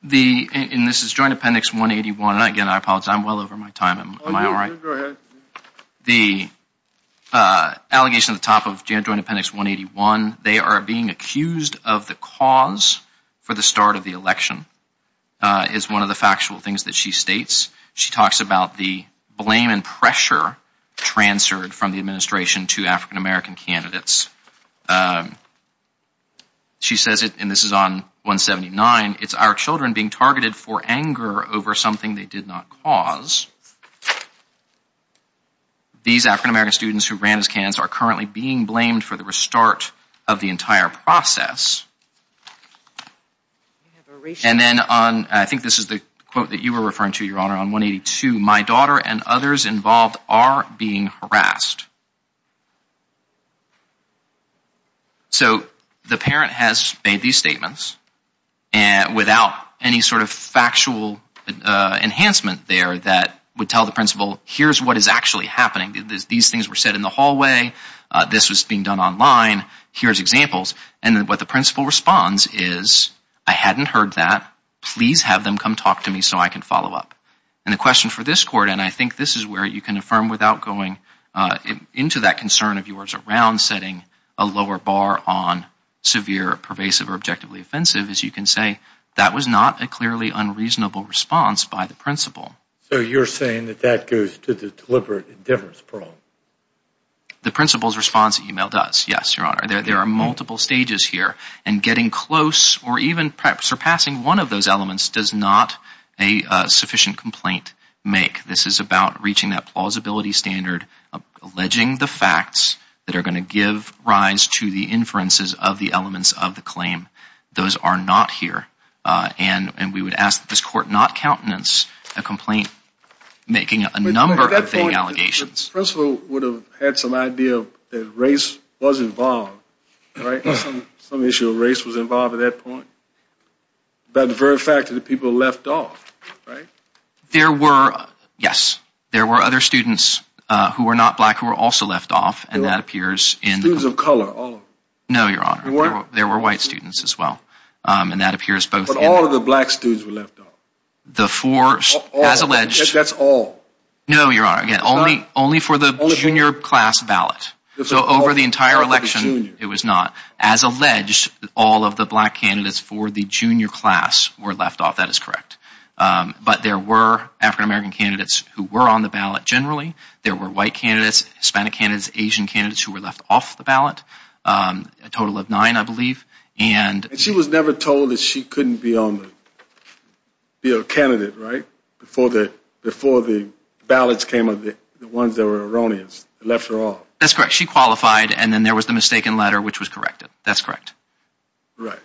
The... And this is Joint Appendix 181, and again, I apologize, I'm well over my time, am I all right? The allegation at the top of Joint Appendix 181, they are being accused of the cause for the start of the election, is one of the factual things that she states. She talks about the blame and pressure transferred from the administration to African-American candidates. She says it, and this is on 179, it's our children being targeted for anger over something they did not cause. These African-American students who ran as candidates are currently being blamed for the start of the entire process. And then on, I think this is the quote that you were referring to, Your Honor, on 182, my daughter and others involved are being harassed. So the parent has made these statements, and without any sort of factual enhancement there that would tell the principal, here's what is actually happening. These things were said in the hallway, this was being done online, here's examples. And what the principal responds is, I hadn't heard that, please have them come talk to me so I can follow up. And the question for this court, and I think this is where you can affirm without going into that concern of yours around setting a lower bar on severe, pervasive, or objectively offensive, as you can say, that was not a clearly unreasonable response by the principal. So you're saying that that goes to the deliberate difference parole? The principal's response email does, yes, Your Honor. There are multiple stages here, and getting close or even perhaps surpassing one of those elements does not a sufficient complaint make. This is about reaching that plausibility standard of alleging the facts that are going to give rise to the inferences of the elements of the claim. Those are not here. And we would ask that this court not countenance a complaint making a number of the allegations. The principal would have had some idea that race was involved, right, some issue of race was involved at that point, about the very fact that the people left off, right? There were, yes, there were other students who were not black who were also left off, and that appears in... Students of color, all of them? No, Your Honor. There were white students as well, and that appears both... But all of the black students were left off? The four, as alleged... That's all? No, Your Honor, again, only for the junior class ballot. So over the entire election, it was not. As alleged, all of the black candidates for the junior class were left off, that is correct. But there were African-American candidates who were on the ballot generally. There were white candidates, Hispanic candidates, Asian candidates who were left off the ballot, a total of nine, I believe, and... And she was never told that she couldn't be on the, be a candidate, right, before the, before the ballots came of the ones that were erroneous, left her off. That's correct, she qualified, and then there was the mistaken letter which was corrected, that's correct. Right,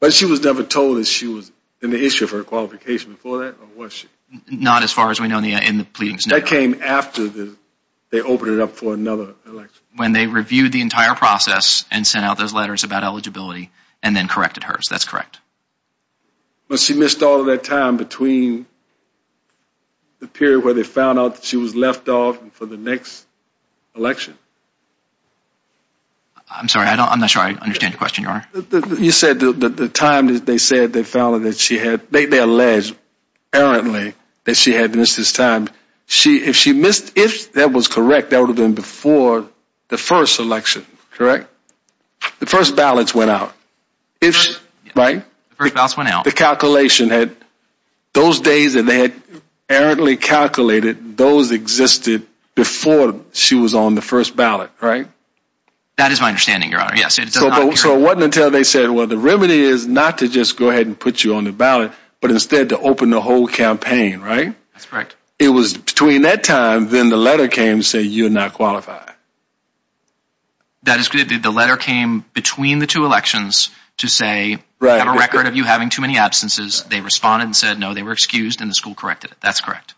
but she was never told that she was in the issue of her qualification before that, or was she? Not as far as we know in the pleadings. That came after they opened it up for another election. When they reviewed the entire process and sent out those letters about eligibility, and then corrected hers, that's correct. But she missed all of that time between the period where they found out that she was left off for the next election? I'm sorry, I don't, I'm not sure I understand your question, Your Honor. You said that the time they said they found that she had, they alleged, apparently, that she had missed this time. She, if she missed, if that was correct, that would have been before the first election, correct? The first ballots went out. If, right? The first ballots went out. The calculation had, those days that they had errantly calculated, those existed before she was on the first ballot, right? That is my understanding, Your Honor, yes. So it wasn't until they said, well the remedy is not to just go ahead and put you on the ballot, but instead to open the whole campaign, right? That's correct. It was between that time, then the letter came to say you're not qualified. That is correct. The letter came between the two elections to say, I have a record of you having too many absences. They responded and said no, they were excused, and the school corrected it. That's correct.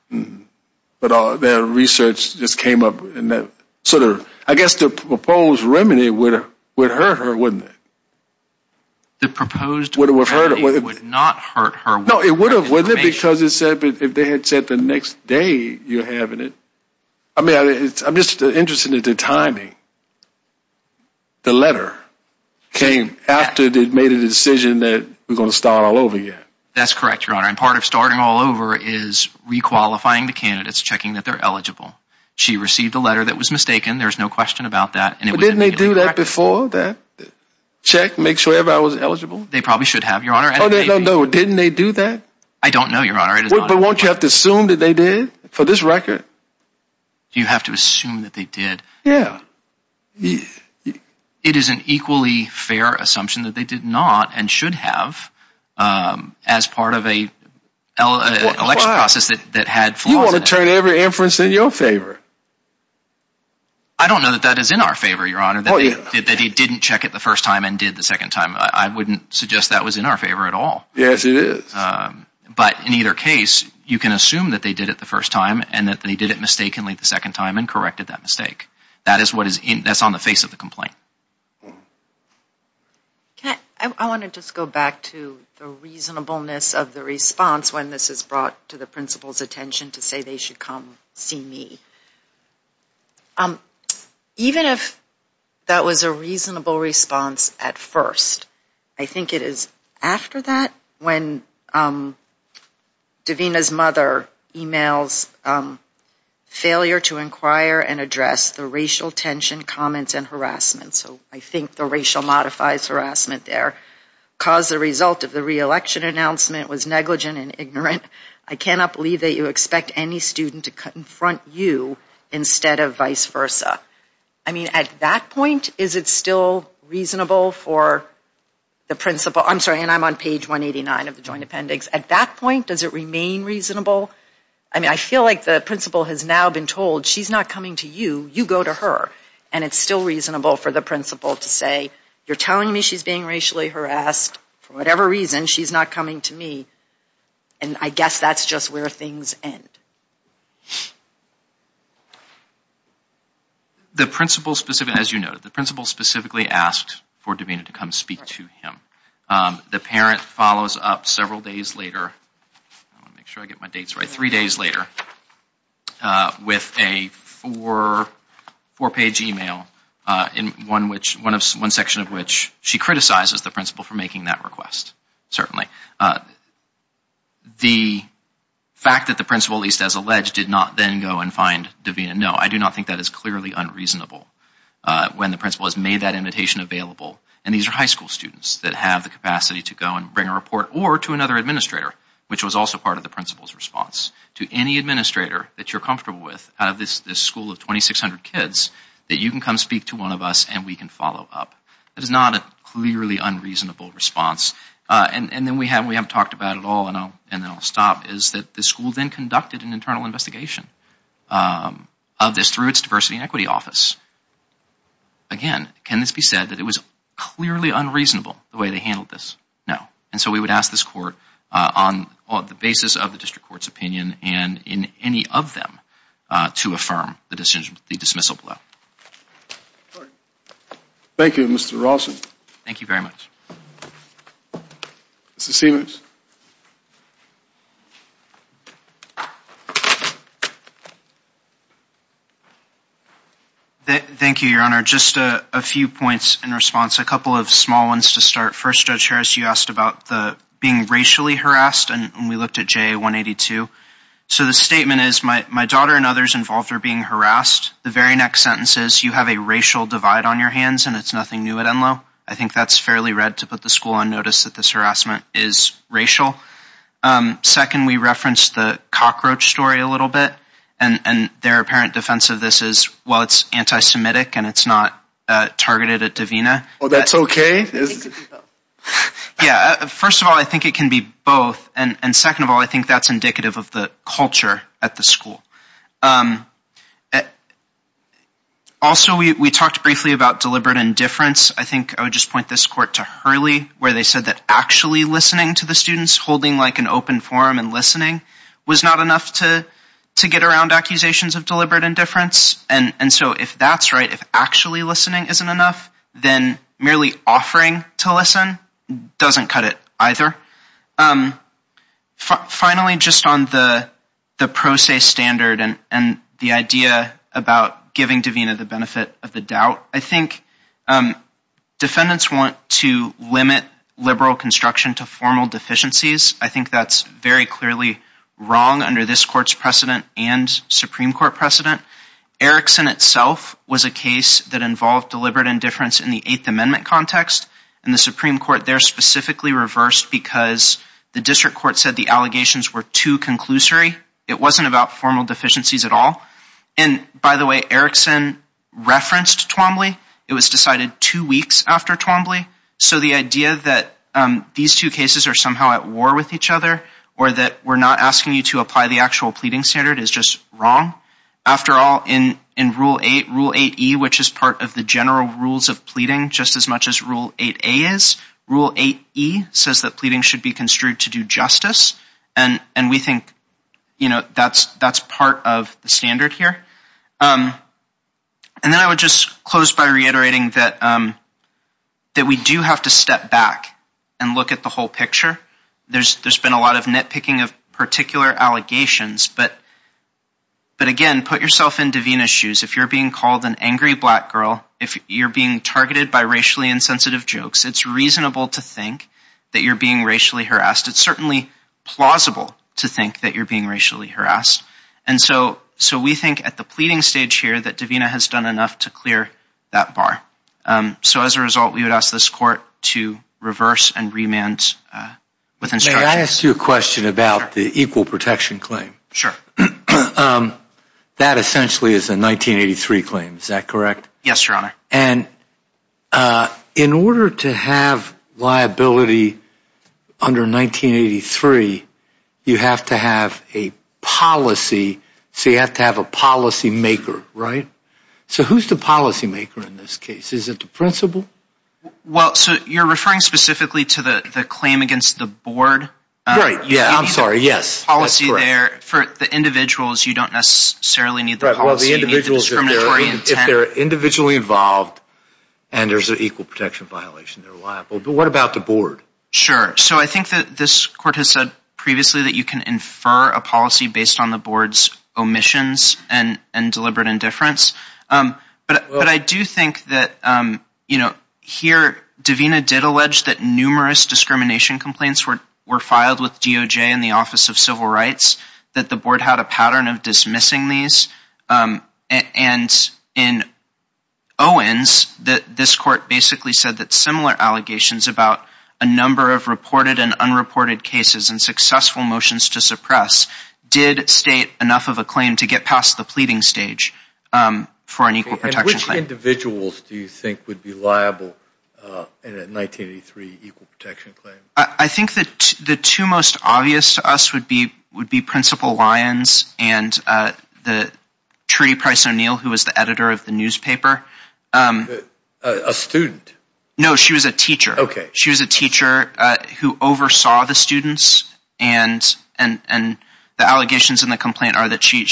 But all their research just came up, and that sort of, I guess the proposed remedy would have, would hurt her, wouldn't it? The proposed remedy would not hurt her. No, it would have, wouldn't it? Because it said, if they had said the next day you're having it, I mean, I'm just interested in the timing. The letter came after they'd made a decision that we're going to start all over again. That's correct, Your Honor, and part of starting all over is re-qualifying the candidates, checking that they're eligible. She received a letter that was mistaken, there's no question about that. But didn't they do that before, that check, make sure everybody was eligible? They probably should have, Your Honor. No, no, no, didn't they do that? I don't know, Your Honor. But won't you have to assume that they did, for this record? Do you have to assume that they did? Yeah. It is an equally fair assumption that they did not, and should have, as part of a election process that had flaws in it. You want to turn every inference in your favor. I don't know that that is in our favor, Your Honor, that he didn't check it the first time and did the second time. I wouldn't suggest that was in our favor at all. Yes, it is. But in either case, you can assume that they did it the first time and that they did it mistakenly the second time and corrected that mistake. That is what is in, that's on the face of the complaint. I want to just go back to the reasonableness of the response when this is brought to the principal's attention to say they should come see me. Even if that was a reasonable response at first. I think it is after that when Davina's mother emails failure to inquire and address the racial tension, comments, and harassment. So I think the racial modifies harassment there. Because the result of the re-election announcement was negligent and ignorant, I cannot believe that you expect any student to confront you instead of vice versa. I mean, at that point, is it still reasonable for the principal, I'm sorry, and I'm on page 189 of the joint appendix. At that point, does it remain reasonable? I mean, I feel like the principal has now been told she's not coming to you, you go to her. And it's still reasonable for the principal to say, you're telling me she's being racially harassed for whatever reason, she's not coming to me, and I guess that's just where things end. The principal specifically, as you noted, the principal specifically asked for Davina to come speak to him. The parent follows up several days later, I want to make sure I get my dates right, three days later, with a four-page email, one section of which she criticizes the principal for making that request, certainly. The fact that the principal, at least as alleged, did not then go and find Davina, no, I do not think that is clearly unreasonable when the principal has made that invitation available, and these are high school students that have the capacity to go and bring a report, or to another administrator, which was also part of the principal's response, to any administrator that you're comfortable with out of this school of 2,600 kids, that you can come speak to one of us and we can follow up. That is not a clearly unreasonable response. And then we haven't talked about it at all, and then I'll stop, is that the school then conducted an internal investigation of this through its diversity and equity office. Again, can this be said that it was clearly unreasonable the way they handled this? No. And so we would ask this court on the basis of the district court's opinion, and in any of them, to affirm the dismissal below. Thank you, Mr. Rawson. Thank you very much. Mr. Siemens. Thank you, your honor. Just a few points in response, a couple of small ones to start. First, Judge Harris, you asked about being racially harassed, and we looked at JA 182. So the statement is, my daughter and others involved are being harassed. The very next sentence is, you have a racial divide on your hands, and it's nothing new at Enloe. I think that's fairly red to put the school on notice that this harassment is racial. Second, we referenced the cockroach story a little bit, and their apparent defense of this is, well, it's anti-semitic, and it's not targeted at Divina. Oh, that's okay? Yeah, first of all, I think it can be both, and second of all, I think that's indicative of the culture at the school. Also, we talked briefly about deliberate indifference. I think I would just point this court to Hurley, where they said that actually listening to the students, holding like an open forum and listening, was not enough to get around accusations of deliberate indifference. And so if that's right, if actually listening isn't enough, then merely offering to listen doesn't cut it either. Finally, just on the pro se standard and the idea about giving Divina the benefit of the doubt, I think defendants want to limit liberal construction to formal deficiencies. I think that's very clearly wrong under this court's precedent and Supreme Court precedent. Erickson itself was a case that involved deliberate indifference in the Eighth Amendment context, and the Supreme Court there specifically reversed because the district court said the allegations were too conclusory. It wasn't about formal deficiencies at all. And by the way, Erickson referenced Twombly. It was decided two weeks after Twombly, so the idea that these two cases are somehow at war with each other or that we're not asking you to apply the actual pleading standard is just wrong. After all, in Rule 8E, which is part of the general rules of pleading just as much as Rule 8A is, Rule 8E says that pleading should be construed to do justice, and we think that's part of the standard here. And then I would just close by reiterating that we do have to step back and look at the whole picture. There's been a lot of nitpicking of particular allegations, but again, put yourself in Davina's shoes. If you're being called an angry black girl, if you're being targeted by racially insensitive jokes, it's reasonable to think that you're being racially harassed. It's certainly plausible to think that you're being racially harassed. And so we think at the pleading stage here that Davina has done enough to clear that bar. So as a result, we would ask this court to reverse and remand with instructions. May I ask you a question about the equal protection claim? Sure. That essentially is a 1983 claim, is that correct? Yes, Your Honor. And in order to have liability under 1983, you have to have a policy, so you have to have a policymaker, right? So who's the policymaker in this case? Is it the principal? Well, so you're referring specifically to the claim against the board? Right, yeah, I'm sorry. Yes, that's correct. For the individuals, you don't necessarily need the policy, you need the discriminatory intent. If they're individually involved and there's an equal protection violation, they're liable. But what about the board? Sure. So I think that this court has said previously that you can infer a policy based on the board's omissions and deliberate indifference. But I do think that, you know, here, Davina did allege that numerous discrimination complaints were filed with DOJ and the Office of Civil Rights, that the board had a pattern of dismissing these. And in Owens, that this court basically said that similar allegations about a number of reported and unreported cases and successful motions to suppress did state enough of a claim to get past the pleading stage for an equal protection claim. And which individuals do you think would be liable in a 1983 equal protection claim? I think that the two most obvious to us would be would be Principal Lyons and the Trudy Price O'Neill, who was the editor of the newspaper. A student? No, she was a teacher. Okay. She was a teacher who oversaw the students and the allegations in the complaint are that she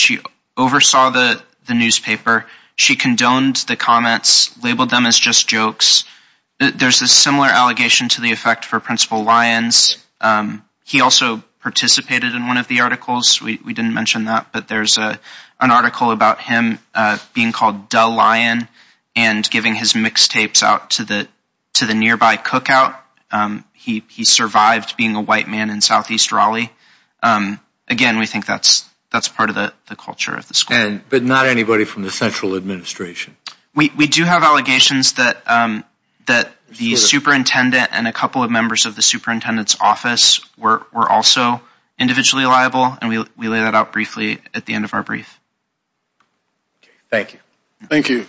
oversaw the newspaper. She condoned the comments, labeled them as just jokes. There's a similar allegation to the effect for Principal Lyons. He also participated in one of the articles. We didn't mention that, but there's an article about him being called Dull Lion and giving his mixtapes out to the nearby cookout. He survived being a white man in Southeast Raleigh. Again, we think that's part of the culture of the school. But not anybody from the central administration? We do have allegations that the superintendent and a couple of members of the superintendent's office were also individually liable and we lay that out briefly at the end of our brief. Thank you. Thank you.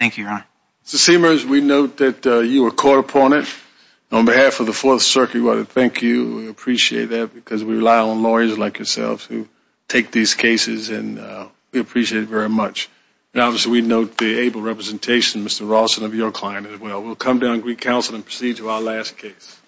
Thank you, Your Honor. Mr. Seamers, we note that you were appointed. On behalf of the Fourth Circuit, we want to thank you. We appreciate that because we rely on lawyers like yourselves who take these cases and we appreciate it very much. And obviously, we note the able representation, Mr. Rawson, of your client as well. We'll come down to Greek Council and proceed to our last case.